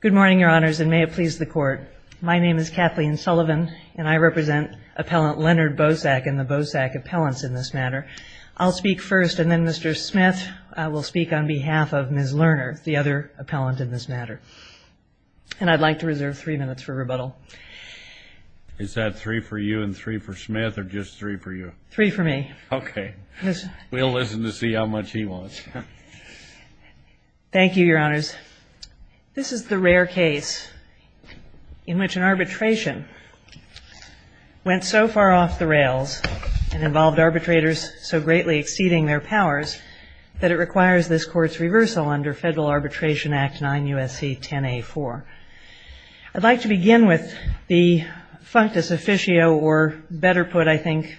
Good morning, your honors, and may it please the court. My name is Kathleen Sullivan, and I represent appellant Leonard Bosack and the Bosack appellants in this matter. I'll speak first, and then Mr. Smith will speak on behalf of Ms. Lerner, the other appellant in this matter. And I'd like to reserve three minutes for rebuttal. Is that three for you and three for Smith, or just three for you? Three for me. Okay. We'll listen to see how much he wants. Thank you, your honors. This is the rare case in which an arbitration went so far off the rails and involved arbitrators so greatly exceeding their powers that it requires this court's reversal under Federal Arbitration Act 9 U.S.C. 10A4. I'd like to begin with the functus officio, or better put, I think,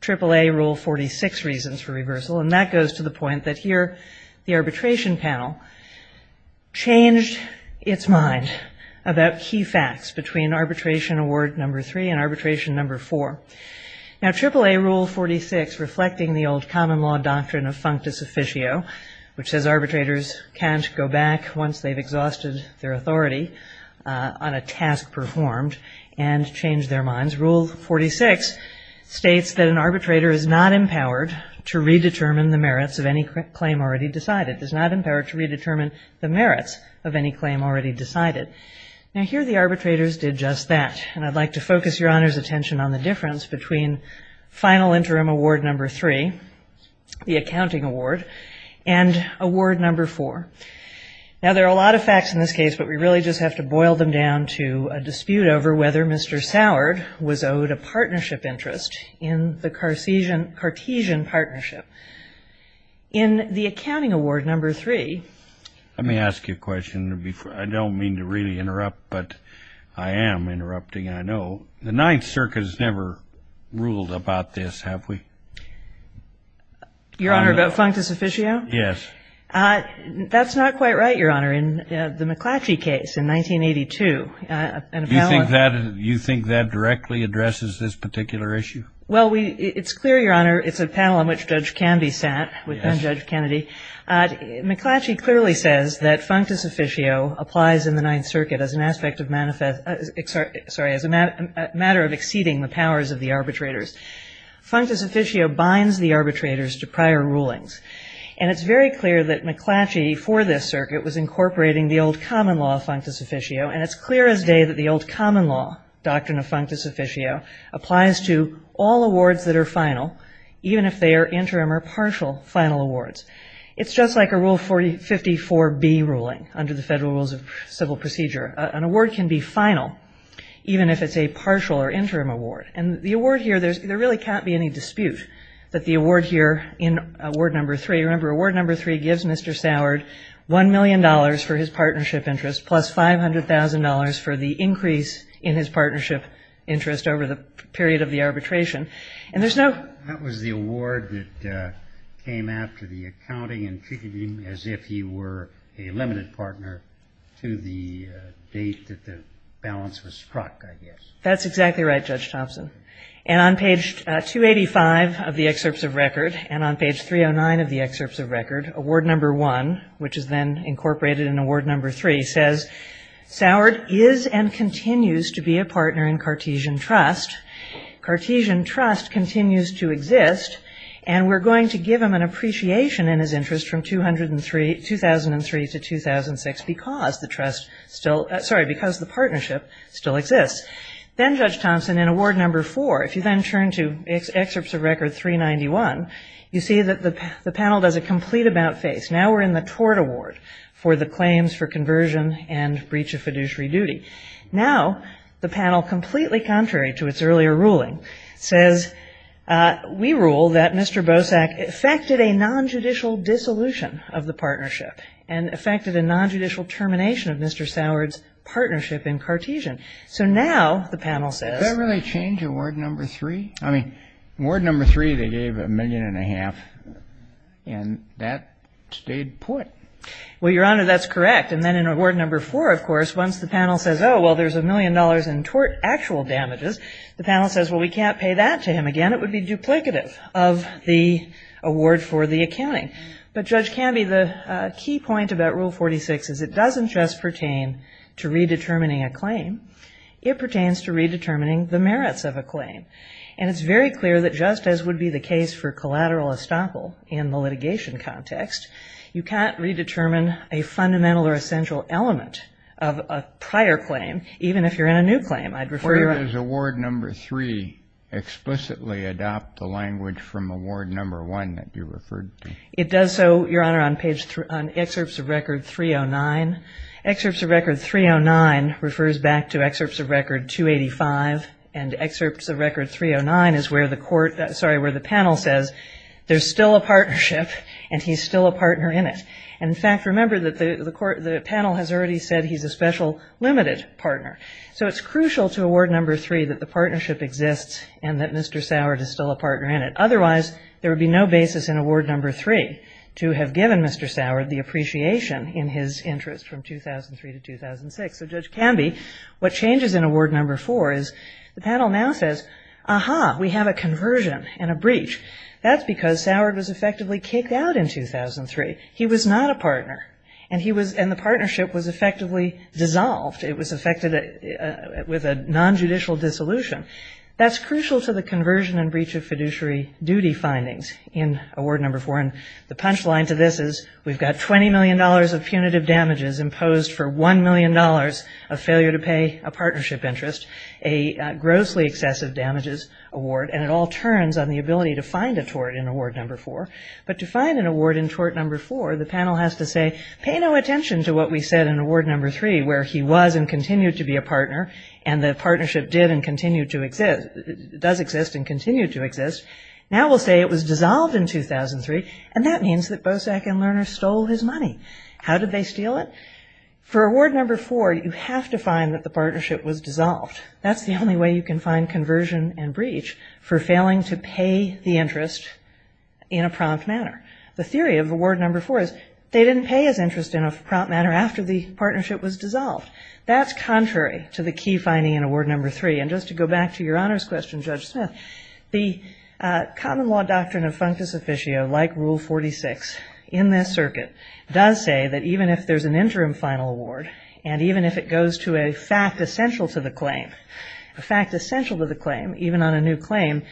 AAA Rule 46 reasons for reversal. And that goes to the point that here the arbitration panel changed its mind about key facts between Arbitration Award No. 3 and Arbitration No. 4. Now AAA Rule 46, reflecting the old common law doctrine of functus officio, which says arbitrators can't go back once they've exhausted their authority on a task performed and change their minds, Rule 46 states that an arbitrator is not empowered to redetermine the merits of any claim already decided, is not empowered to redetermine the merits of any claim already decided. Now here the arbitrators did just that, and I'd like to focus your honors' attention on the difference between Final Interim Award No. 3, the accounting award, and Award No. 4. Now there are a lot of facts in this case, but we really just have to boil them down to a dispute over whether Mr. Sourd was owed a partnership interest in the Cartesian partnership. In the accounting award No. 3 — Let me ask you a question. I don't mean to really interrupt, but I am interrupting, and I know. The Ninth Circuit has never ruled about this, have we? Your Honor, about functus officio? Yes. That's not quite right, Your Honor. In the McClatchy case in 1982, an appellant — You think that directly addresses this particular issue? Well, it's clear, Your Honor, it's a panel on which Judge Kennedy sat, with Judge Kennedy. McClatchy clearly says that functus officio applies in the Ninth Circuit as an aspect of manifest — sorry, as a matter of exceeding the powers of the arbitrators. Functus officio binds the arbitrators to prior rulings, and it's very clear that McClatchy for this circuit was incorporating the old common law of functus officio, and it's clear as day that the old common law doctrine of functus officio applies to all awards that are final, even if they are interim or partial final awards. It's just like a Rule 54B ruling under the Federal Rules of Civil Procedure. An award can be final, even if it's a partial or interim award. And the award here, there really can't be any dispute that the award here in Award No. 3 — remember, Award No. 3 gives Mr. Sourd $1 million for his partnership interest, plus $500,000 for the increase in his partnership interest over the period of the arbitration. And there's no — That was the award that came after the accounting and treated him as if he were a limited partner to the date that the balance was struck, I guess. That's exactly right, Judge Thompson. And on page 285 of the Excerpts of Record, and on page 309 of the Excerpts of Record, Award No. 1, which is then incorporated in Award No. 3, says, Sourd is and continues to be a partner in Cartesian Trust. Cartesian Trust continues to exist, and we're going to give him an appreciation in his interest from 2003 to 2006 because the trust still — sorry, because the partnership still exists. Then, Judge Thompson, in Award No. 4, if you then turn to Excerpts of Record 391, you see that the panel does a complete about-face. Now we're in the tort award for the claims for conversion and breach of fiduciary duty. Now the panel, completely contrary to its earlier ruling, says, we rule that Mr. Bosak affected a nonjudicial dissolution of the partnership and affected a nonjudicial termination of Mr. Sourd's partnership in Cartesian. So now the panel says — Does that really change Award No. 3? I mean, in Award No. 3, they gave a million and a half, and that stayed put. Well, Your Honor, that's correct. And then in Award No. 4, of course, once the panel says, oh, well, there's a million dollars in tort actual damages, the panel says, well, we can't pay that to him again. It would be duplicative of the award for the accounting. But Judge Canby, the key point about Rule 46 is it doesn't just pertain to redetermining a claim, it pertains to redetermining the merits of a claim. And it's very clear that just as would be the case for collateral estoppel in the litigation context, you can't redetermine a fundamental or essential element of a prior claim, even if you're in a new claim. I'd refer you — Or does Award No. 3 explicitly adopt the language from Award No. 1 that you referred to? It does so, Your Honor, on excerpts of Record 309. 309 refers back to excerpts of Record 285, and excerpts of Record 309 is where the court — sorry, where the panel says there's still a partnership, and he's still a partner in it. And, in fact, remember that the panel has already said he's a special limited partner. So it's crucial to Award No. 3 that the partnership exists and that Mr. Sourd is still a partner in it. Otherwise, there would be no basis in Award No. 3 to have given Mr. Sourd the appreciation in his interest from 2003 to 2006. So, Judge Canby, what changes in Award No. 4 is the panel now says, aha, we have a conversion and a breach. That's because Sourd was effectively kicked out in 2003. He was not a partner, and he was — and the partnership was effectively dissolved. It was affected with a nonjudicial dissolution. That's crucial to the conversion and breach of fiduciary duty findings in Award No. 4, and the punchline to this is we've got $20 million of punitive damages imposed for $1 million of failure to pay a partnership interest, a grossly excessive damages award, and it all turns on the ability to find a tort in Award No. 4. But to find an award in Tort No. 4, the panel has to say, pay no attention to what we said in Award No. 3, where he was and continued to be a partner, and the partnership did and continued to — does exist and continued to exist. Now we'll say it was dissolved in 2003, and that means that Bosak and Lerner stole his money. How did they steal it? For Award No. 4, you have to find that the partnership was dissolved. That's the only way you can find conversion and breach for failing to pay the interest in a prompt manner. The theory of Award No. 4 is they didn't pay his interest in a prompt manner after the partnership was dissolved. That's contrary to the key finding in Award No. 3. And just to go back to your honors question, Judge Smith, the common law doctrine of functus in this circuit does say that even if there's an interim final award, and even if it goes to a fact essential to the claim, a fact essential to the claim, even on a new claim,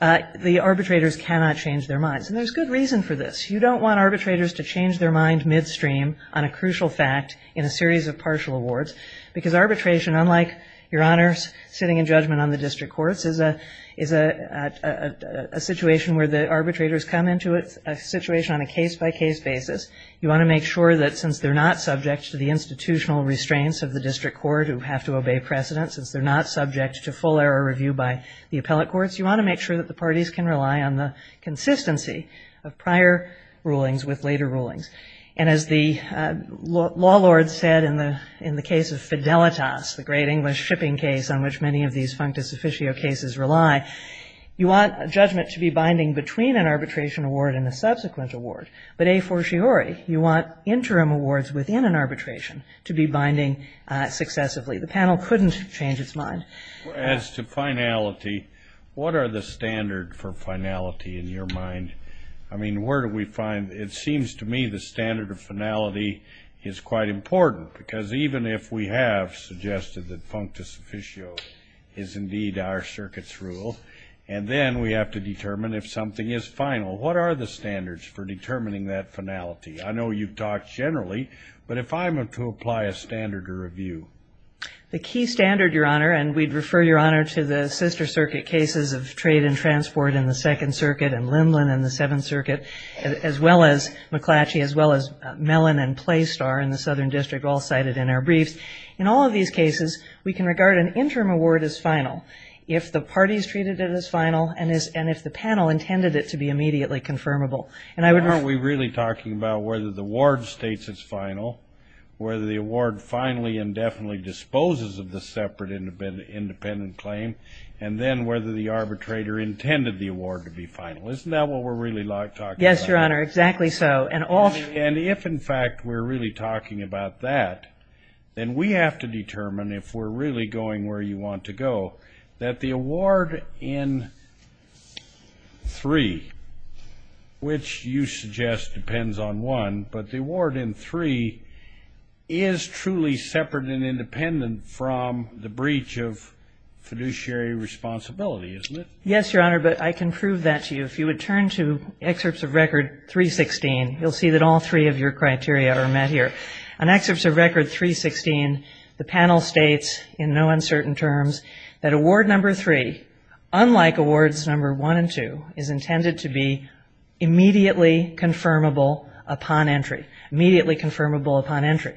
the arbitrators cannot change their minds. And there's good reason for this. You don't want arbitrators to change their mind midstream on a crucial fact in a series of partial awards, because arbitration, unlike, your honors, sitting in judgment on the district courts, is a situation where the arbitrators come into a situation on a case-by-case basis. You want to make sure that since they're not subject to the institutional restraints of the district court who have to obey precedent, since they're not subject to full error review by the appellate courts, you want to make sure that the parties can rely on the consistency of prior rulings with later rulings. And as the law lord said in the case of Fidelitas, the great English shipping case on which many of these functus officio cases rely, you want judgment to be binding between an arbitration award and a subsequent award. But a fortiori, you want interim awards within an arbitration to be binding successively. The panel couldn't change its mind. As to finality, what are the standard for finality in your mind? I mean, where do we find, it seems to me, the standard of finality is quite important, because even if we have suggested that functus officio is indeed our circuit's rule, and then we have to determine if something is final, what are the standards for determining that finality? I know you've talked generally, but if I'm to apply a standard to review. The key standard, Your Honor, and we'd refer, Your Honor, to the sister circuit cases of trade and transport in the Second Circuit and Lindland in the Seventh Circuit, as well as McClatchy, as well as Mellon and Playstar in the Southern District, all cited in our briefs. In all of these cases, we can regard an interim award as final if the parties treated it as final, and if the panel intended it to be immediately confirmable. And I wouldn't... But aren't we really talking about whether the award states it's final, whether the award finally and definitely disposes of the separate independent claim, and then whether the arbitrator intended the award to be final? Isn't that what we're really talking about? Yes, Your Honor, exactly so. And if, in fact, we're really talking about that, then we have to determine if we're really going where you want to go, that the award in 3, which you suggest depends on 1, but the award in 3 is truly separate and independent from the breach of fiduciary responsibility, isn't it? Yes, Your Honor, but I can prove that to you. If you would turn to Excerpts of Record 316, you'll see that all three of your criteria are met here. On Excerpts of Record 316, the panel states in no uncertain terms that Award No. 3, unlike Awards No. 1 and 2, is intended to be immediately confirmable upon entry, immediately confirmable upon entry.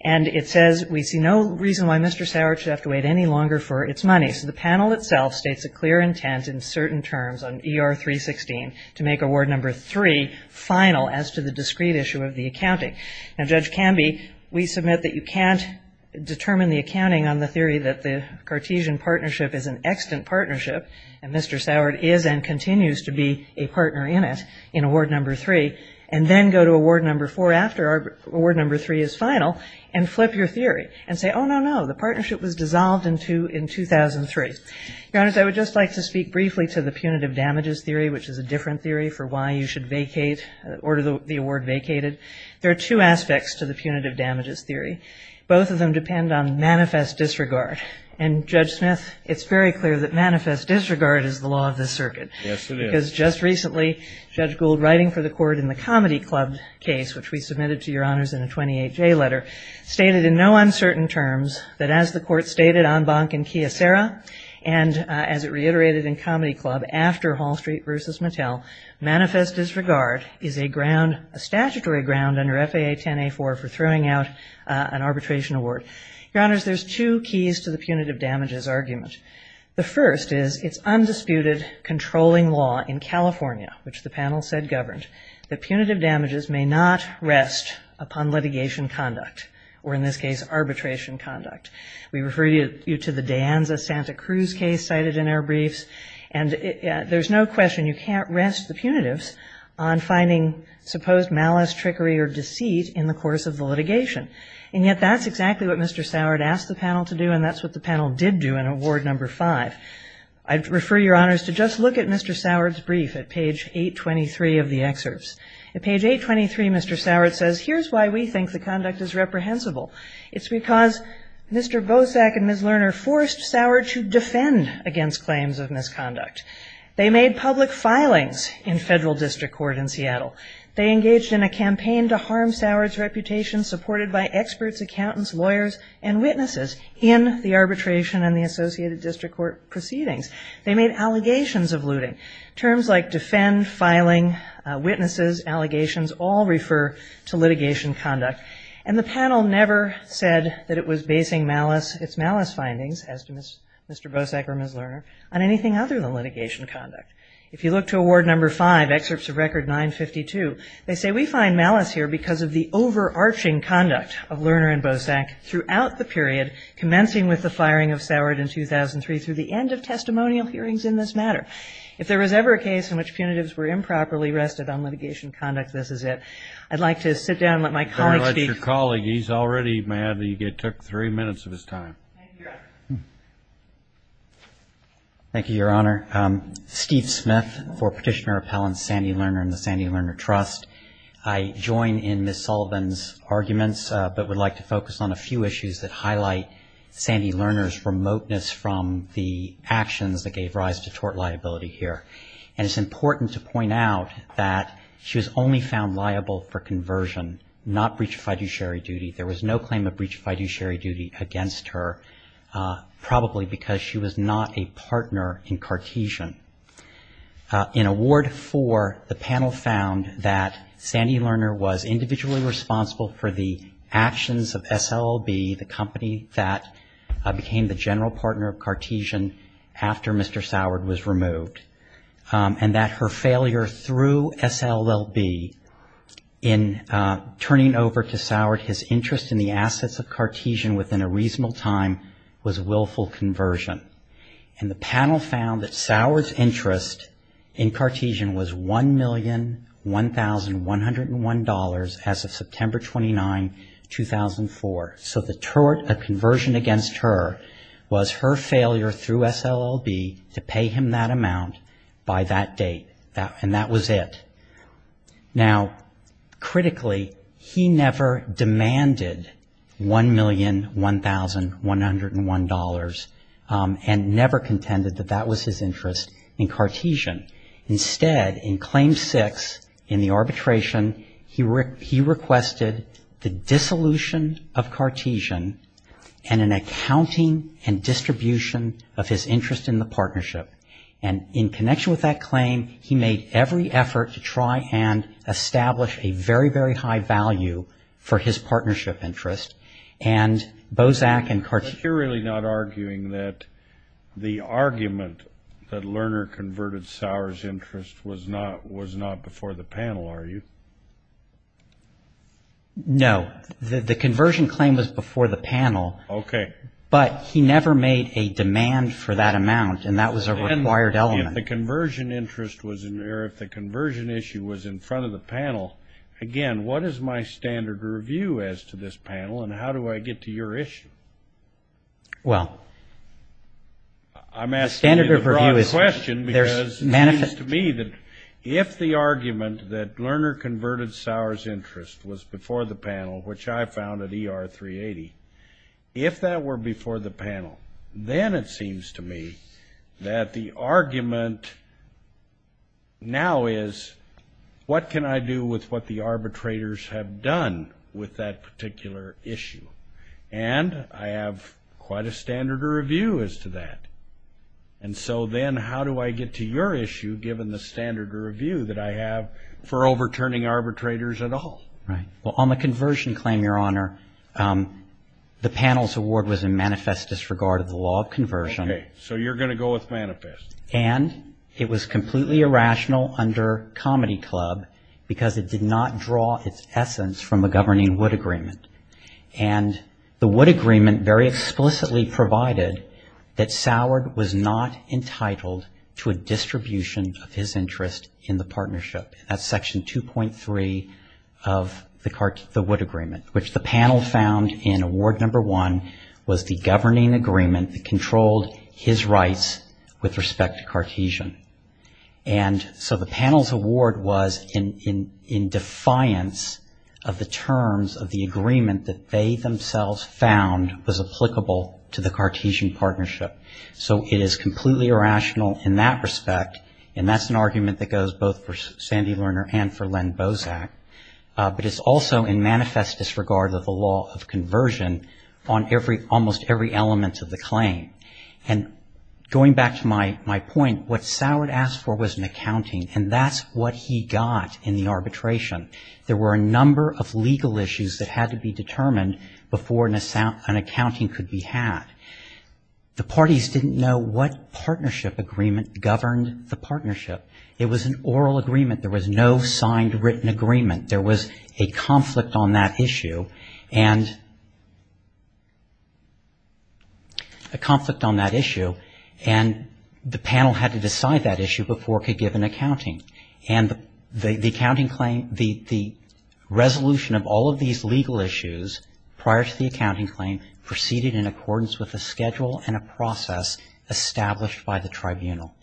And it says we see no reason why Mr. Sauer should have to wait any longer for its money. So the panel itself states a clear intent in certain terms on ER 316 to make Award No. 3 final as to the discrete issue of the accounting. Now, Judge Canby, we submit that you can't determine the accounting on the theory that the Cartesian partnership is an extant partnership, and Mr. Sauer is and continues to be a partner in it in Award No. 3, and then go to Award No. 4 after Award No. 3 is final and flip your theory and say, oh, no, no, the partnership was dissolved in 2003. Your Honors, I would just like to speak briefly to the punitive damages theory, which is a different theory for why you should vacate, order the award vacated. There are two aspects to the punitive damages theory. Both of them depend on manifest disregard. And Judge Smith, it's very clear that manifest disregard is the law of this circuit. Yes, it is. Because just recently, Judge Gould, writing for the court in the Comedy Club case, which we submitted to Your Honors in a 28-J letter, stated in no uncertain terms that as the court stated on Bank and Chiesera, and as it reiterated in Comedy Club, after Hall Street versus Mattel, manifest disregard is a statutory ground under FAA 10-A-4 for throwing out an arbitration award. Your Honors, there's two keys to the punitive damages argument. The first is it's undisputed controlling law in California, which the panel said governed, that punitive damages may not rest upon litigation conduct, or in this case, arbitration conduct. We refer you to the Danza-Santa Cruz case cited in our briefs. And there's no question you can't rest the punitives on finding supposed malice, trickery, or deceit in the course of the litigation. And yet, that's exactly what Mr. Sourd asked the panel to do, and that's what the panel did do in Award No. 5. I'd refer Your Honors to just look at Mr. Sourd's brief at page 823 of the excerpts. At page 823, Mr. Sourd says, here's why we think the conduct is reprehensible. It's because Mr. Bosak and Ms. Lerner forced Sourd to defend against claims of misconduct. They made public filings in federal district court in Seattle. They engaged in a campaign to harm Sourd's reputation, supported by experts, accountants, lawyers, and witnesses in the arbitration and the associated district court proceedings. They made allegations of looting. Terms like defend, filing, witnesses, allegations, all refer to litigation conduct. And the panel never said that it was basing its malice findings, as to Mr. Bosak or Ms. Lerner, on anything other than litigation conduct. If you look to Award No. 5, excerpts of Record 952, they say we find malice here because of the overarching conduct of Lerner and Bosak throughout the period, commencing with the firing of Sourd in 2003 through the end of testimonial hearings in this matter. If there was ever a case in which punitives were improperly rested on litigation conduct, this is it. I'd like to sit down and let my colleague speak. Let your colleague. He's already mad that you took three minutes of his time. Thank you, Your Honor. Thank you, Your Honor. Steve Smith for Petitioner Appellants, Sandy Lerner and the Sandy Lerner Trust. I join in Ms. Sullivan's arguments, but would like to focus on a few issues that highlight Sandy Lerner's remoteness from the actions that gave rise to tort liability here. And it's important to point out that she was only found liable for conversion, not breach of fiduciary duty. There was no claim of breach of fiduciary duty against her, probably because she was not a partner in Cartesian. In Award 4, the panel found that Sandy Lerner was individually responsible for the actions of SLLB, the company that became the general partner of Cartesian after Mr. Sourd was removed, and that her failure through SLLB in turning over to Sourd his interest in the assets of Cartesian within a reasonable time was willful conversion. And the panel found that Sourd's interest in Cartesian was $1,001,101 as of September 29, 2004. So the tort of conversion against her was her failure through SLLB to pay him that amount by that date, and that was it. Now, critically, he never demanded $1,001,101 and never contended that that was his interest in Cartesian. Instead, in Claim 6, in the arbitration, he requested the dissolution of Cartesian and an accounting and distribution of his interest in the partnership. And in connection with that claim, he made every effort to try and establish a very, very high value for his partnership interest. And Bozak and Cartesian... But you're really not arguing that the argument that Lerner converted Sourd's interest was not before the panel, are you? No. The conversion claim was before the panel. Okay. But he never made a demand for that amount, and that was a required element. If the conversion issue was in front of the panel, again, what is my standard review as to this panel, and how do I get to your issue? Well... I'm asking you the broad question because it seems to me that if the argument that Lerner converted Sourd's interest was before the panel, which I found at ER 380, if that were before the panel, then it seems to me that the argument now is, what can I do with what the arbitrators have done with that particular issue? And I have quite a standard review as to that. And so then how do I get to your issue, given the standard review that I have for overturning arbitrators at all? Right. Well, on the conversion claim, Your Honor, the panel's award was in manifest disregard of the law of conversion. Okay. So you're going to go with manifest. And it was completely irrational under Comedy Club because it did not draw its essence from the governing Wood Agreement. And the Wood Agreement very explicitly provided that Sourd was not entitled to a distribution of his interest in the partnership. That's Section 2.3 of the Wood Agreement, which the panel found in Award No. 1 was the governing agreement that controlled his rights with respect to Cartesian. And so the panel's award was in defiance of the terms of the agreement that they themselves found was applicable to the Cartesian partnership. So it is completely irrational in that respect. And that's an argument that goes both for Sandy Lerner and for Len Bozak. But it's also in manifest disregard of the law of conversion on every, almost every element of the claim. And going back to my point, what Sourd asked for was an accounting. And that's what he got in the arbitration. There were a number of legal issues that had to be determined before an accounting could be had. The parties didn't know what partnership agreement governed the partnership. It was an oral agreement. There was no signed written agreement. There was a conflict on that issue and the panel had to decide that issue before it could give an accounting. And the accounting claim, the resolution of all of these legal issues prior to the accounting claim proceeded in accordance with a schedule and a process established by the tribunal.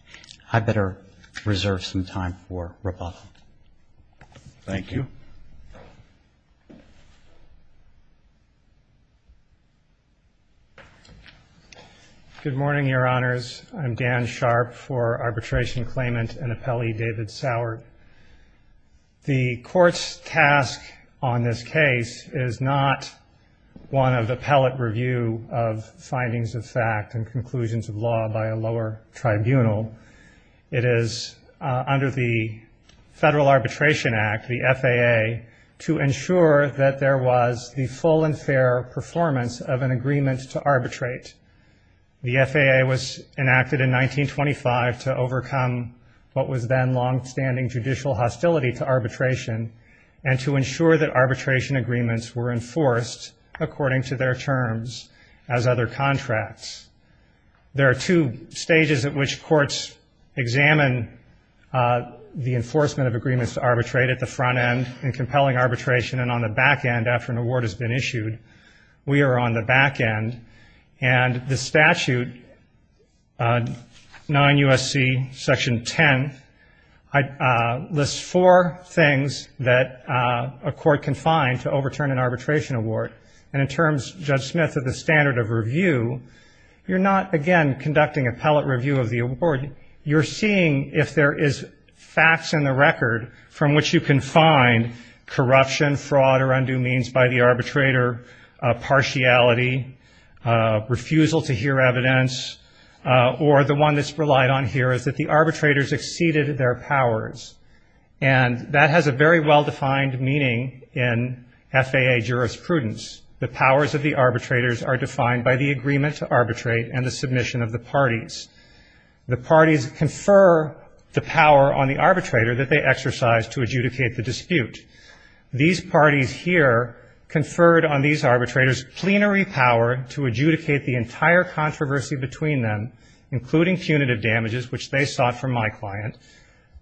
I better reserve some time for rebuttal. Thank you. Good morning, Your Honors. I'm Dan Sharp for Arbitration Claimant and Appellee David Sourd. The court's task on this case is not one of appellate review of findings of fact and conclusions of law by a lower tribunal. It is under the Federal Arbitration Act, the FAA, to ensure that there was the full and fair performance of an agreement to arbitrate. The FAA was enacted in 1925 to overcome what was then longstanding judicial hostility to arbitration and to ensure that arbitration agreements were enforced according to their terms as other contracts. There are two stages at which courts examine the enforcement of agreements to arbitrate at the front end and compelling arbitration and on the back end after an award has been issued. We are on the back end, and the statute, 9 U.S.C. Section 10, lists four things that a court can find to overturn an arbitration award, and in terms, Judge Smith, of the standard of review, you're not, again, conducting appellate review of the award. You're seeing if there is facts in the record from which you can find corruption, fraud, or undue means by the arbitrator partiality, refusal to hear evidence, or the one that's relied on here is that the arbitrators exceeded their powers. And that has a very well-defined meaning in FAA jurisprudence. The powers of the arbitrators are defined by the agreement to arbitrate and the submission of the parties. The parties confer the power on the arbitrator that they exercise to adjudicate the dispute. These parties here conferred on these arbitrators plenary power to adjudicate the entire controversy between them, including punitive damages, which they sought from my client.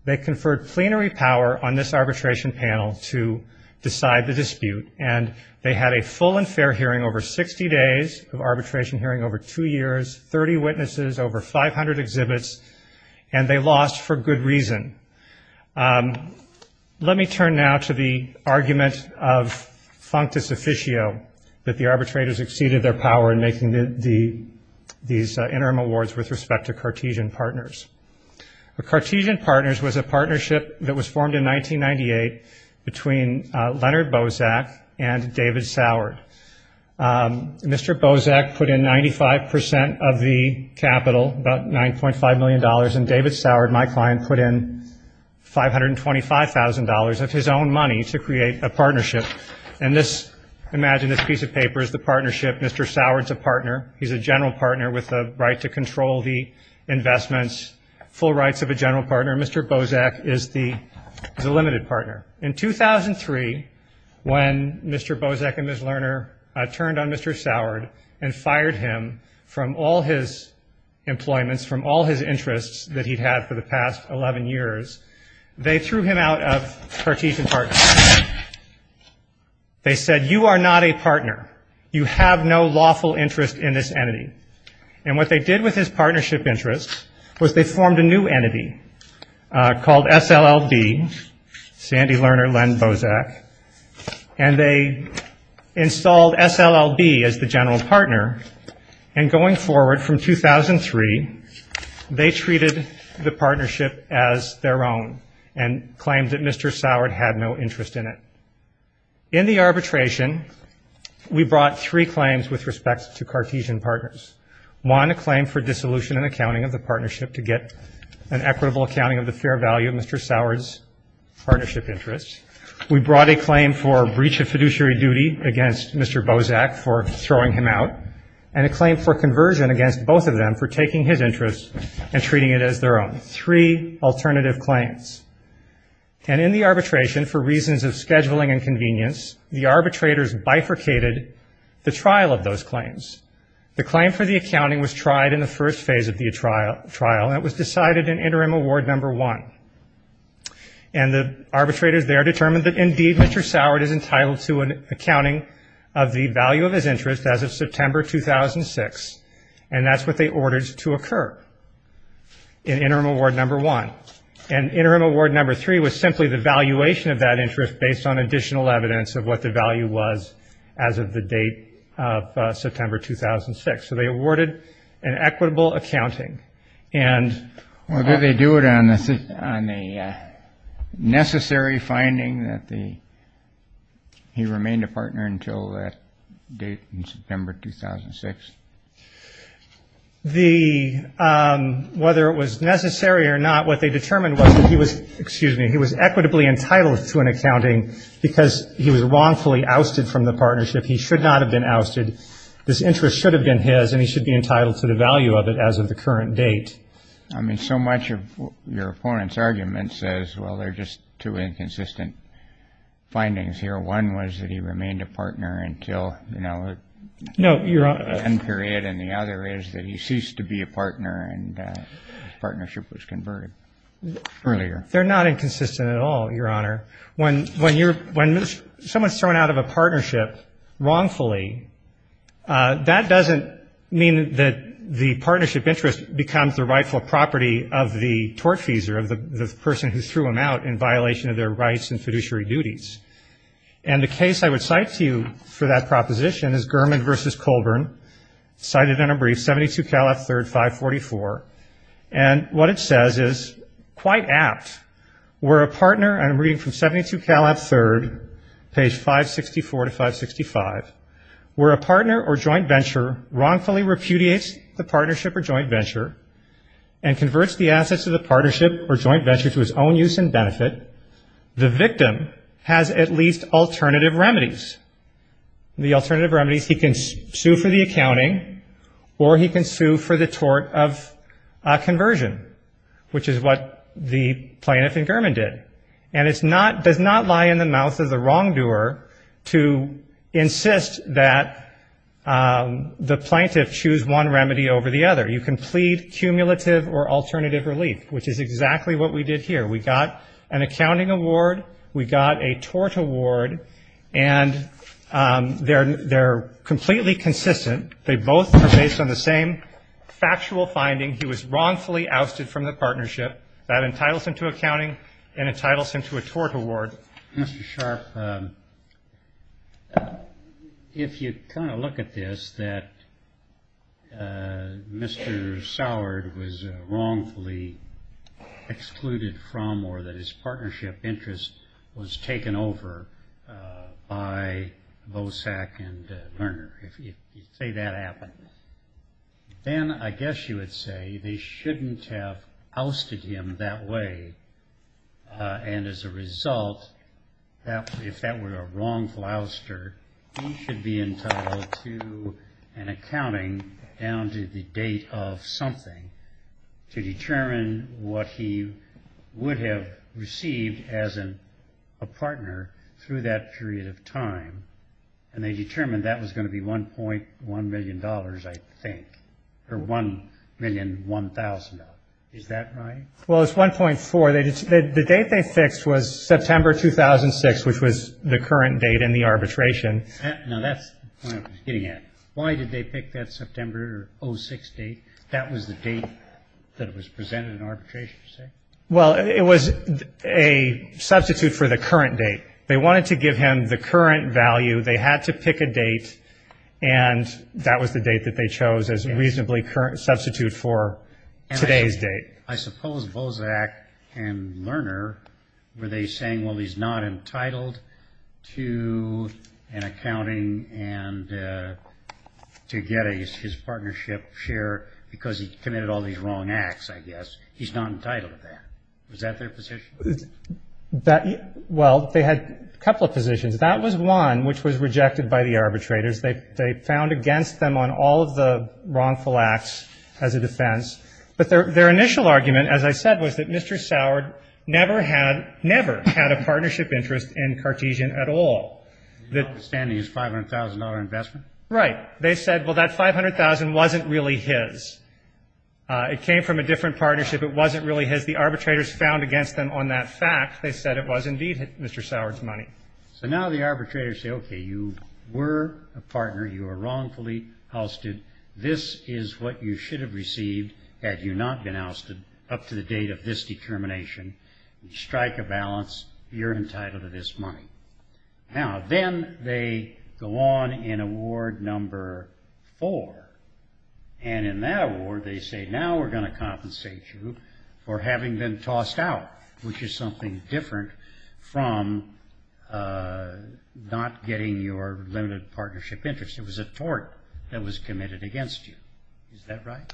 They conferred plenary power on this arbitration panel to decide the dispute, and they had a full and fair hearing over 60 days of arbitration hearing over two years, 30 witnesses, over 500 exhibits, and they lost for good reason. Let me turn now to the argument of functus officio, that the arbitrators exceeded their power in making these interim awards with respect to Cartesian Partners. Cartesian Partners was a partnership that was formed in 1998 between Leonard Bozak and David Sourd. Mr. Bozak put in 95 percent of the capital, about $9.5 million, and David Sourd, my client, put in $1.5 million. $525,000 of his own money to create a partnership. And this, imagine this piece of paper is the partnership, Mr. Sourd's a partner, he's a general partner with a right to control the investments, full rights of a general partner, Mr. Bozak is the limited partner. In 2003, when Mr. Bozak and Ms. Lerner turned on Mr. Sourd and fired him from all his employments, from all his interests that he'd had for the past 11 years, they threw him out of Cartesian Partners. They said, you are not a partner. You have no lawful interest in this entity. And what they did with his partnership interest was they formed a new entity called SLLB, Sandy Lerner, Len Bozak, and they installed SLLB as the general partner. And going forward from 2003, they treated the partnership as their own and claimed that Mr. Sourd had no interest in it. In the arbitration, we brought three claims with respect to Cartesian Partners. One, a claim for dissolution and accounting of the partnership to get an equitable accounting of the fair value of Mr. Sourd's partnership interest. And a claim for conversion against both of them for taking his interest and treating it as their own. Three alternative claims. And in the arbitration, for reasons of scheduling and convenience, the arbitrators bifurcated the trial of those claims. The claim for the accounting was tried in the first phase of the trial, and it was decided in interim award number one. And the arbitrators there determined that indeed Mr. Sourd is entitled to an accounting of the value of his interest as of September 2006, and that's what they ordered to occur in interim award number one. And interim award number three was simply the valuation of that interest based on additional evidence of what the value was as of the date of September 2006. So they awarded an equitable accounting. And they do it on a necessary finding that he remained a partner until that date in September 2006. Whether it was necessary or not, what they determined was that he was, excuse me, he was equitably entitled to an accounting because he was wrongfully ousted from the partnership. If he should not have been ousted, this interest should have been his, and he should be entitled to the value of it as of the current date. I mean, so much of your opponent's argument says, well, they're just two inconsistent findings here. One was that he remained a partner until, you know, one period, and the other is that he ceased to be a partner and his partnership was converted earlier. They're not inconsistent at all, Your Honor. When someone's thrown out of a partnership wrongfully, that doesn't mean that the partnership interest becomes the rightful property of the tortfeasor, of the person who threw him out in violation of their rights and fiduciary duties. And the case I would cite to you for that proposition is Gurman v. Colburn, cited in a brief, 72 Cal F. 3rd, 544. And what it says is quite apt. Where a partner, and I'm reading from 72 Cal F. 3rd, page 564 to 565, where a partner or joint venture wrongfully repudiates the partnership or joint venture and converts the assets of the partnership or joint venture to his own use and benefit, the victim has at least alternative remedies. The alternative remedies, he can sue for the accounting or he can sue for the tort of conversion, which is what the plaintiff and Gurman did. And it's not, does not lie in the mouth of the wrongdoer to insist that the plaintiff choose one remedy over the other. You can plead cumulative or alternative relief, which is exactly what we did here. We got an accounting award, we got a tort award, and they're completely consistent. They both are based on the same factual finding, he was wrongfully ousted from the partnership. That entitles him to accounting and entitles him to a tort award. Mr. Sharpe, if you kind of look at this, that Mr. Soward was wrongfully excluded from the partnership. Or that his partnership interest was taken over by Bosak and Lerner. If you say that happened, then I guess you would say they shouldn't have ousted him that way. And as a result, if that were a wrongful ouster, he should be entitled to an accounting down to the date of something to determine what he would have received as a partner through that period of time. And they determined that was going to be $1.1 million, I think, or $1,001,000. Is that right? Well, it's 1.4. The date they fixed was September 2006, which was the current date in the arbitration. Now, that's the point I was getting at. Why did they pick that September 06 date? That was the date that was presented in arbitration, you say? Well, it was a substitute for the current date. They wanted to give him the current value. They had to pick a date, and that was the date that they chose as a reasonably current substitute for today's date. I suppose Bosak and Lerner, were they saying, well, he's not entitled to an accounting down to the date and to get his partnership share because he committed all these wrong acts, I guess. He's not entitled to that. Was that their position? Well, they had a couple of positions. That was one, which was rejected by the arbitrators. They found against them on all of the wrongful acts as a defense. But their initial argument, as I said, was that Mr. Sourd never had a partnership interest in Cartesian at all. His outstanding is $500,000 investment? Right. They said, well, that $500,000 wasn't really his. It came from a different partnership. It wasn't really his. The arbitrators found against them on that fact. They said it was indeed Mr. Sourd's money. So now the arbitrators say, okay, you were a partner. You were wrongfully ousted. This is what you should have received had you not been ousted up to the date of this determination. Strike a balance. You're entitled to this money. Now, then they go on in award number four. And in that award, they say, now we're going to compensate you for having been tossed out, which is something different from not getting your limited partnership interest. It was a tort that was committed against you. Is that right?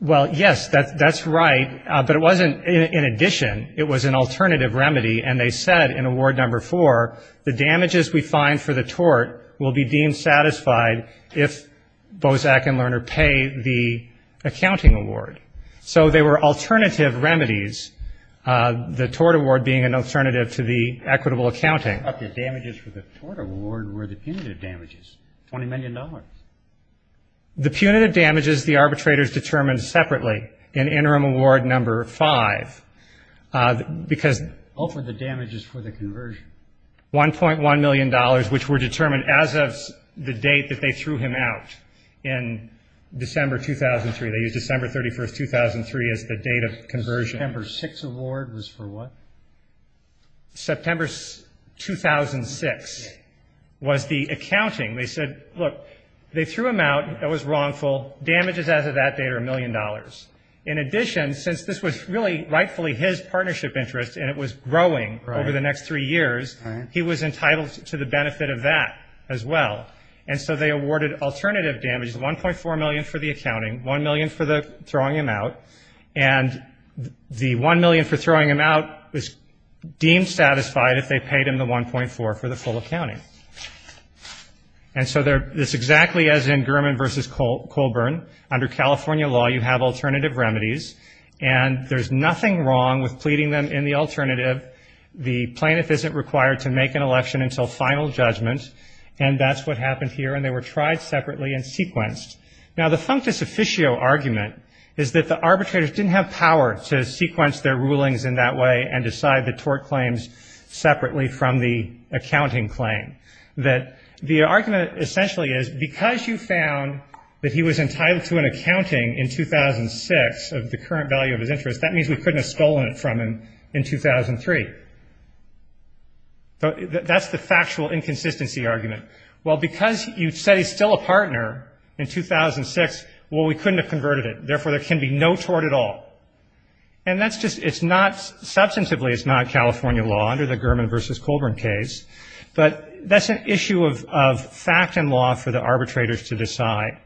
Well, yes, that's right. But it wasn't in addition. It was an alternative remedy. And they said in award number four, the damages we find for the tort will be deemed satisfied if Bozak and Lerner pay the accounting award. So they were alternative remedies, the tort award being an alternative to the equitable accounting. The damages for the tort award were the punitive damages, $20 million. The punitive damages, the arbitrators determined separately in interim award number five. What were the damages for the conversion? $1.1 million, which were determined as of the date that they threw him out in December 2003. They used December 31st, 2003 as the date of conversion. The September 6th award was for what? September 2006 was the accounting. They said, look, they threw him out, it was wrongful, damages as of that date are $1 million. In addition, since this was really rightfully his partnership interest and it was growing over the next three years, he was entitled to the benefit of that as well. And so they awarded alternative damages, $1.4 million for the accounting, $1 million for throwing him out. And the $1 million for throwing him out was deemed satisfied if they paid him the $1.4 for the full accounting. And so this is exactly as in Gurman v. Colburn. Under California law, you have alternative remedies, and there's nothing wrong with pleading them in the alternative. The plaintiff isn't required to make an election until final judgment. And that's what happened here, and they were tried separately and sequenced. Now, the functus officio argument is that the arbitrators didn't have power to sequence their rulings in that way and decide the tort claims separately from the accounting claim. The argument essentially is, because you found that he was entitled to an accounting in 2006 of the current value of his interest, that means we couldn't have stolen it from him in 2003. That's the factual inconsistency argument. Well, because you said he's still a partner in 2006, well, we couldn't have converted it. Therefore, there can be no tort at all. And that's just, it's not, substantively it's not California law under the Gurman v. Colburn case, but that's an issue of fact and law for the arbitrators to decide.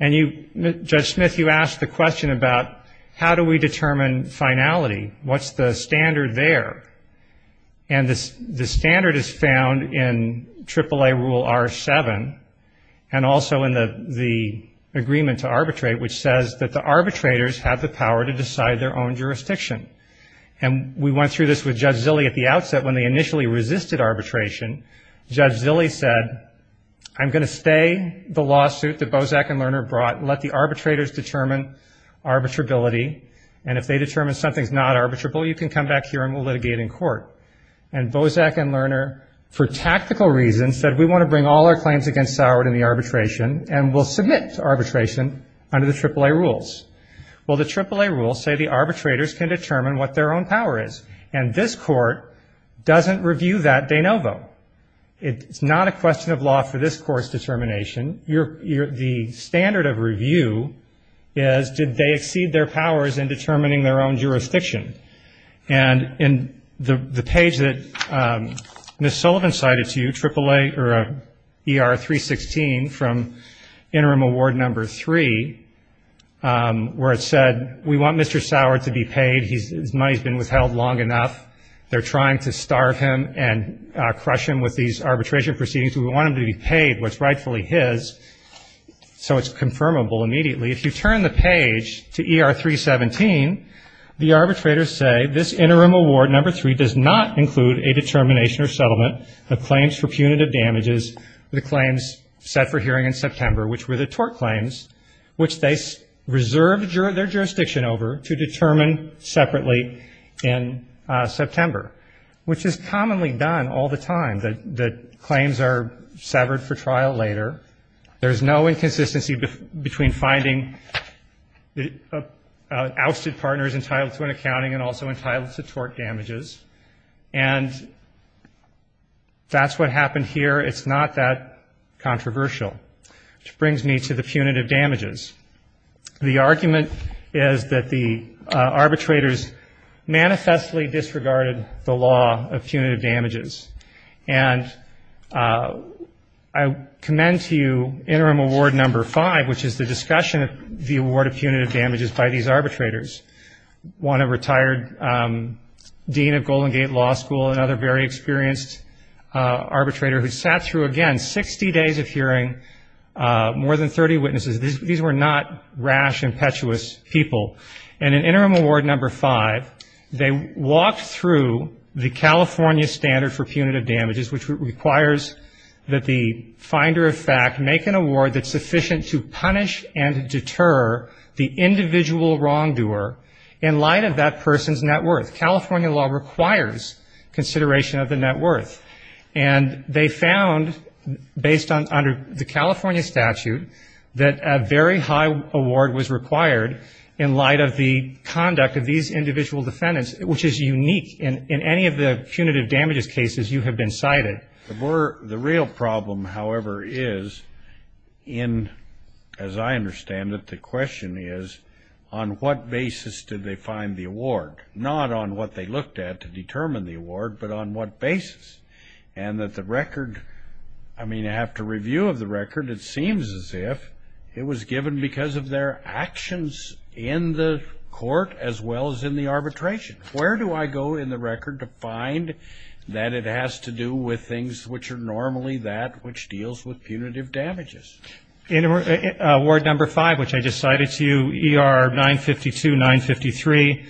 And you, Judge Smith, you asked the question about how do we determine finality? What's the standard there? And the standard is found in AAA Rule R7 and also in the agreement to arbitrate, which says that the arbitrators have the power to decide their own jurisdiction. And we went through this with Judge Zilley at the outset when they initially resisted arbitration. Judge Zilley said, I'm going to stay the lawsuit that Bozak and Lerner brought, let the arbitrators determine arbitrability, and if they determine something's not arbitrable, you can come back here and we'll litigate in court. And Bozak and Lerner, for tactical reasons, said we want to bring all our claims against Soward in the arbitration and we'll submit to arbitration under the AAA Rules. Well, the AAA Rules say the arbitrators can determine what their own power is, and this Court doesn't review that de novo. It's not a question of law for this Court's determination. The standard of review is did they exceed their powers in determining their own jurisdiction. And in the page that Ms. Sullivan cited to you, ER 316 from Interim Award No. 3, where it said we want Mr. Soward to be paid, his money's been withheld long enough, they're trying to starve him and crush him with these arbitration proceedings, we want him to be paid what's rightfully his, so it's confirmable immediately. If you turn the page to ER 317, the arbitrators say this Interim Award No. 3 does not include a determination or settlement of claims for punitive damages for the claims set for hearing in September, which were the tort claims, which they reserved their jurisdiction over to determine separately in September, which is commonly done all the time. The claims are severed for trial later. There's no inconsistency between finding ousted partners entitled to an accounting and also entitled to tort damages. And that's what happened here. It's not that controversial, which brings me to the punitive damages. The argument is that the arbitrators manifestly disregarded the law of punitive damages, and I commend to you Interim Award No. 5, which is the discussion of the award of punitive damages by these arbitrators. One a retired dean of Golden Gate Law School, another very experienced arbitrator who sat through, again, 60 days of hearing, more than 30 witnesses. These were not rash, impetuous people. And in Interim Award No. 5, they walked through the California standard for punitive damages, which requires that the finder of fact make an award that's sufficient to punish and deter the individual wrongdoer in light of that person's net worth. California law requires consideration of the net worth. And they found, based on the California statute, that a very high award was required in light of the conduct of these individual defendants, which is unique in any of the punitive damages cases you have been cited. The real problem, however, is in, as I understand it, the question is, on what basis did they find the award? Not on what they looked at to determine the award, but on what basis? And that the record, I mean, after review of the record, it seems as if it was given because of their actions in the court as well as in the arbitration. Where do I go in the record to find that it has to do with things which are normally that which deals with punitive damages? In award number five, which I just cited to you, ER 952, 953,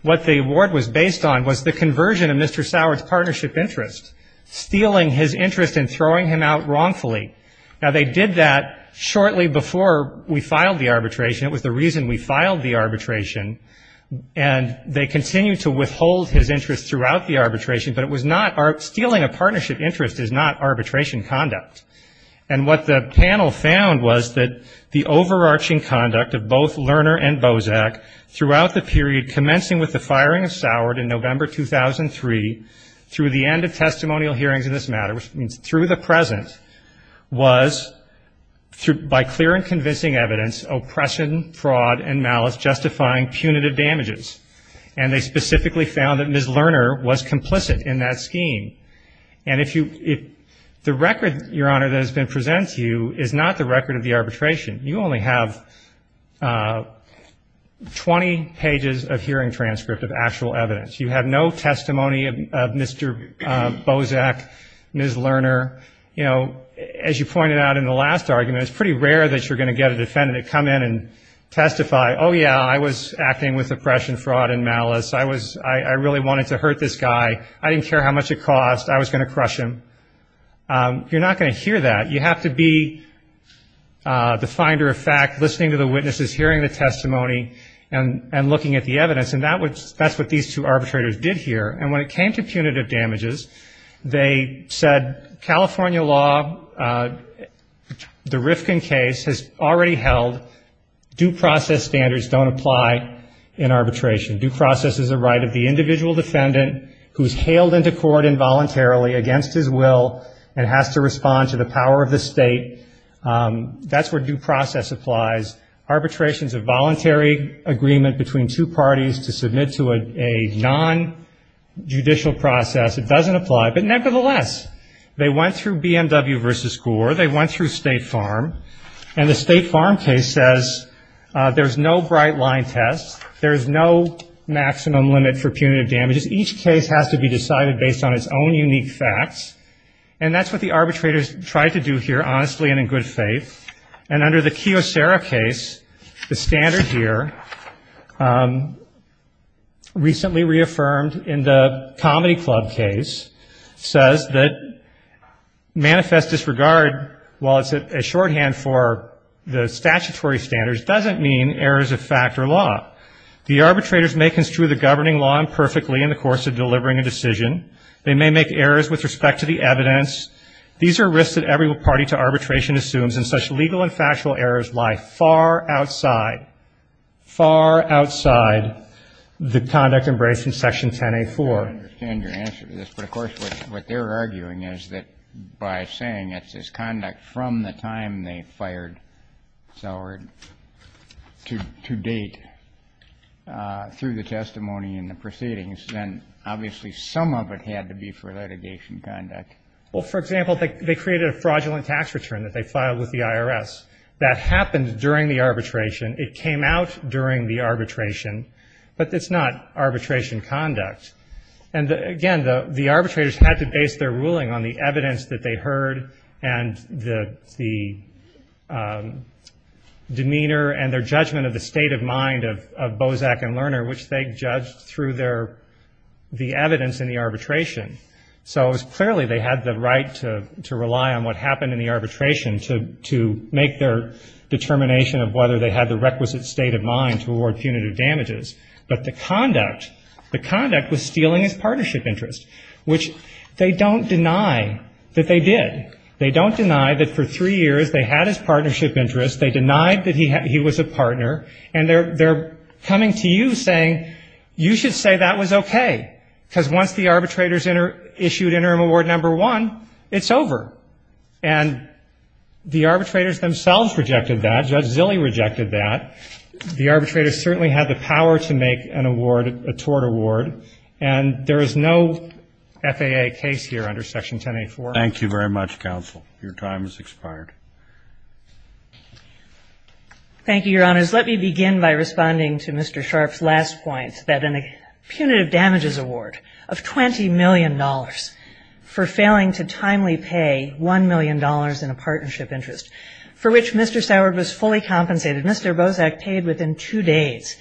what the award was based on was the conversion of Mr. Sauer's partnership interest, stealing his interest and throwing him out wrongfully. Now, they did that shortly before we filed the arbitration. It was the reason we filed the arbitration. And they continued to withhold his interest throughout the arbitration, but it was not stealing a partnership interest is not arbitration conduct. And what the panel found was that the overarching conduct of both Lerner and Bozak throughout the period commencing with the firing of Sauer in November 2003 through the end of testimonial hearings in this matter, which means through the present, was by clear and convincing evidence, oppression, fraud and malice justifying punitive damages. And they specifically found that Ms. Lerner was complicit in that scheme. And if you if the record, Your Honor, that has been presented to you is not the record of the arbitration. You only have 20 pages of hearing transcript of actual evidence. You have no testimony of Mr. Bozak, Ms. Lerner. You know, as you pointed out in the last argument, it's pretty rare that you're going to get a defendant to come in and testify. Oh, yeah, I was acting with oppression, fraud and malice. I was I really wanted to hurt this guy. I didn't care how much it cost. I was going to crush him. You're not going to hear that. You have to be the finder of fact, listening to the witnesses, hearing the testimony and looking at the evidence. And that's what these two arbitrators did here. And when it came to punitive damages, they said California law, the Rifkin case has already held due process standards don't apply in arbitration. Due process is a right of the individual defendant who is hailed into court involuntarily against his will and has to respond to the power of the state. That's where due process applies. Arbitration is a voluntary agreement between two parties to submit to a nonjudicial process. It doesn't apply. But nevertheless, they went through BMW versus Gore. They went through State Farm and the State Farm case says there's no bright line test. There is no maximum limit for punitive damages. Each case has to be decided based on its own unique facts. And that's what the arbitrators tried to do here, honestly and in good faith. And under the Kiyosera case, the standard here recently reaffirmed in the Comedy Club case says that manifest disregard, while it's a shorthand for the statutory standards, doesn't mean errors of fact or law. The arbitrators may construe the governing law imperfectly in the course of delivering a decision. They may make errors with respect to the evidence. These are risks that every party to arbitration assumes, and such legal and factual errors lie far outside, far outside the conduct embraced in Section 10A4. I don't understand your answer to this, but of course what they're arguing is that by saying it's this conduct from the time they fired Sauer to date through the testimony and the proceedings, then obviously some of it had to be for litigation conduct. Well, for example, they created a fraudulent tax return that they filed with the IRS that happened during the arbitration. It came out during the arbitration, but it's not arbitration conduct. And again, the arbitrators had to base their ruling on the evidence that they heard and the demeanor and their judgment of the state of mind of Bozak and Lerner, which they judged through the evidence in the arbitration. So it was clearly they had the right to rely on what happened in the arbitration to make their determination of whether they had the requisite state of mind to award punitive damages. But the conduct was stealing his partnership interest, which they don't deny that they did. They don't deny that for three years they had his partnership interest. They denied that he was a partner. And they're coming to you saying you should say that was okay, because once the arbitrators issued interim award number one, it's over. And the arbitrators themselves rejected that. Judge Zille rejected that. The arbitrators certainly had the power to make an award, a tort award, and there is no FAA case here under Section 10A4. Thank you very much, counsel. Your time has expired. Thank you, Your Honors. Let me begin by responding to Mr. Sharp's last point, that in a punitive damages award of $20 million for failing to timely pay $1 million in a partnership interest, for which Mr. Soward was fully compensated, Mr. Bozak paid within two days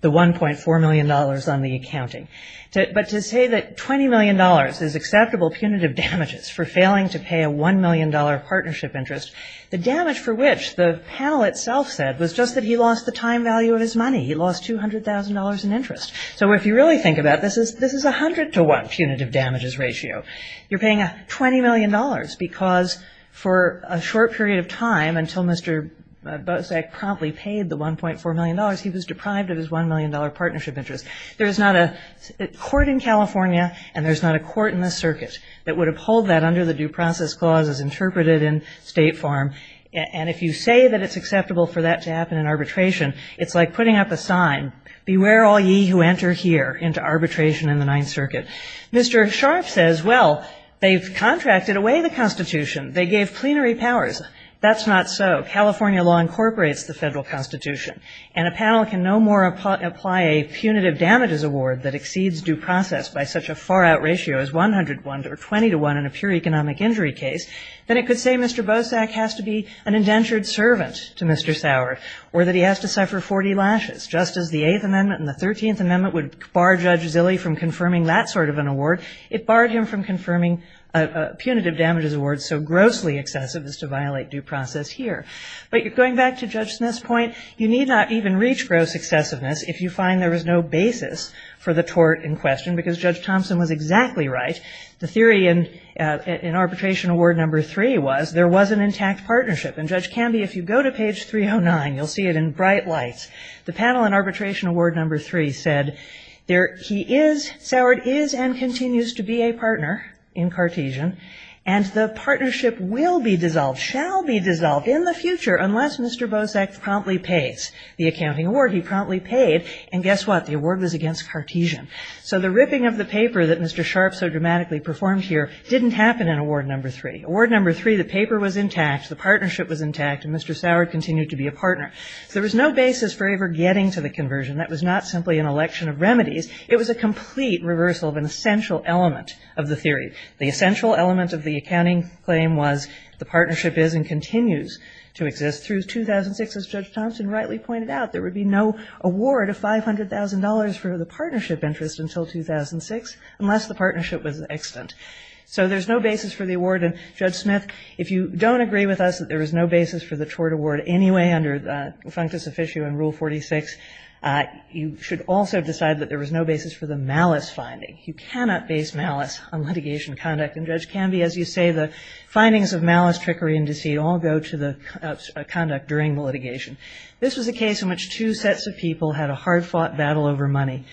the $1.4 million on the accounting. But to say that $20 million is acceptable punitive damages for failing to pay a $1 million partnership interest, the damage for which the panel itself said was just that he lost the time value of his money. He lost $200,000 in interest. So if you really think about this, this is a 100 to 1 punitive damages ratio. You're paying $20 million because for a short period of time until Mr. Bozak promptly paid the $1.4 million, he was deprived of his $1 million partnership interest. There is not a court in California and there's not a court that would uphold that under the due process clause as interpreted in state form. And if you say that it's acceptable for that to happen in arbitration, it's like putting up a sign, beware all ye who enter here into arbitration in the Ninth Circuit. Mr. Sharp says, well, they've contracted away the Constitution. They gave plenary powers. That's not so. California law incorporates the federal Constitution. And a panel can no more apply a punitive damages award that exceeds due process by such a far-out ratio as 100 to 1 or 20 to 1 in a pure economic injury case than it could say Mr. Bozak has to be an indentured servant to Mr. Sauer or that he has to suffer 40 lashes. Just as the Eighth Amendment and the Thirteenth Amendment would bar Judge Zille from confirming that sort of an award, it barred him from confirming a punitive damages award so grossly excessive as to violate due process here. But going back to Judge Smith's point, you need not even reach gross excessiveness if you find there is no basis for the tort of the defendant. And Judge Thompson was exactly right. The theory in Arbitration Award No. 3 was there was an intact partnership. And Judge Canby, if you go to page 309, you'll see it in bright lights. The panel in Arbitration Award No. 3 said there he is, Sauer is and continues to be a partner in Cartesian, and the partnership will be dissolved, shall be dissolved in the future unless Mr. Bozak promptly pays the accounting award he promptly paid. And guess what? The award was against Cartesian. So the ripping of the paper that Mr. Sharpe so dramatically performed here didn't happen in Award No. 3. Award No. 3, the paper was intact, the partnership was intact, and Mr. Sauer continued to be a partner. So there was no basis for ever getting to the conversion. That was not simply an election of remedies. It was a complete reversal of an essential element of the theory. The essential element of the accounting claim was the partnership is and continues to exist through 2006. As Judge Thompson rightly pointed out, there would be no award of $500,000 for the partnership interest until 2006 unless the partnership was extant. So there's no basis for the award, and Judge Smith, if you don't agree with us that there is no basis for the tort award anyway under the functus officio in Rule 46, you should also decide that there was no basis for the malice finding. You cannot base malice on litigation conduct, and Judge Canby, as you say, the findings of malice, trickery, and deceit all go to the conduct during the litigation. This was a case in which two sets of people had a hard-fought battle over money.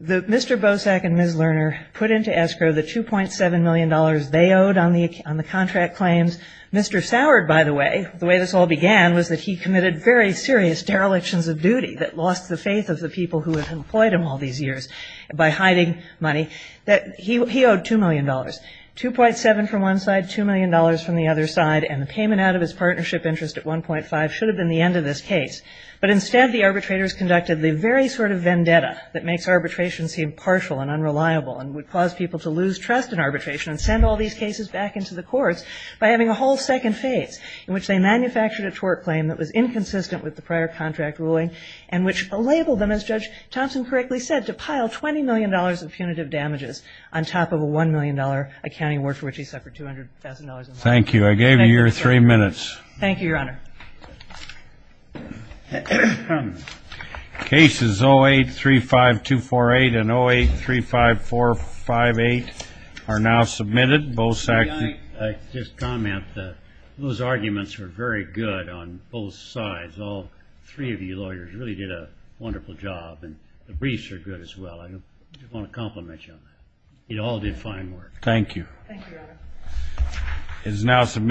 Mr. Bosak and Ms. Lerner put into escrow the $2.7 million they owed on the contract claims. Mr. Sauer, by the way, the way this all began was that he committed very serious derelictions of duty that lost the faith of the people who had employed him all these years by hiding money. He owed $2 million. $2.7 from one side, $2 million from the other side, and the payment out of his partnership interest at 1.5 should have been the end of this case. But instead, the arbitrators conducted the very sort of vendetta that makes arbitration seem partial and unreliable and would cause people to lose trust in arbitration and send all these cases back into the courts by having a whole second phase in which they manufactured a tort claim that was inconsistent with the prior contract ruling and which labeled them, as Judge Thompson correctly said, to pile $20 million of punitive damages on top of a $1 million accounting award for which he suffered $200,000 in loss. Thank you.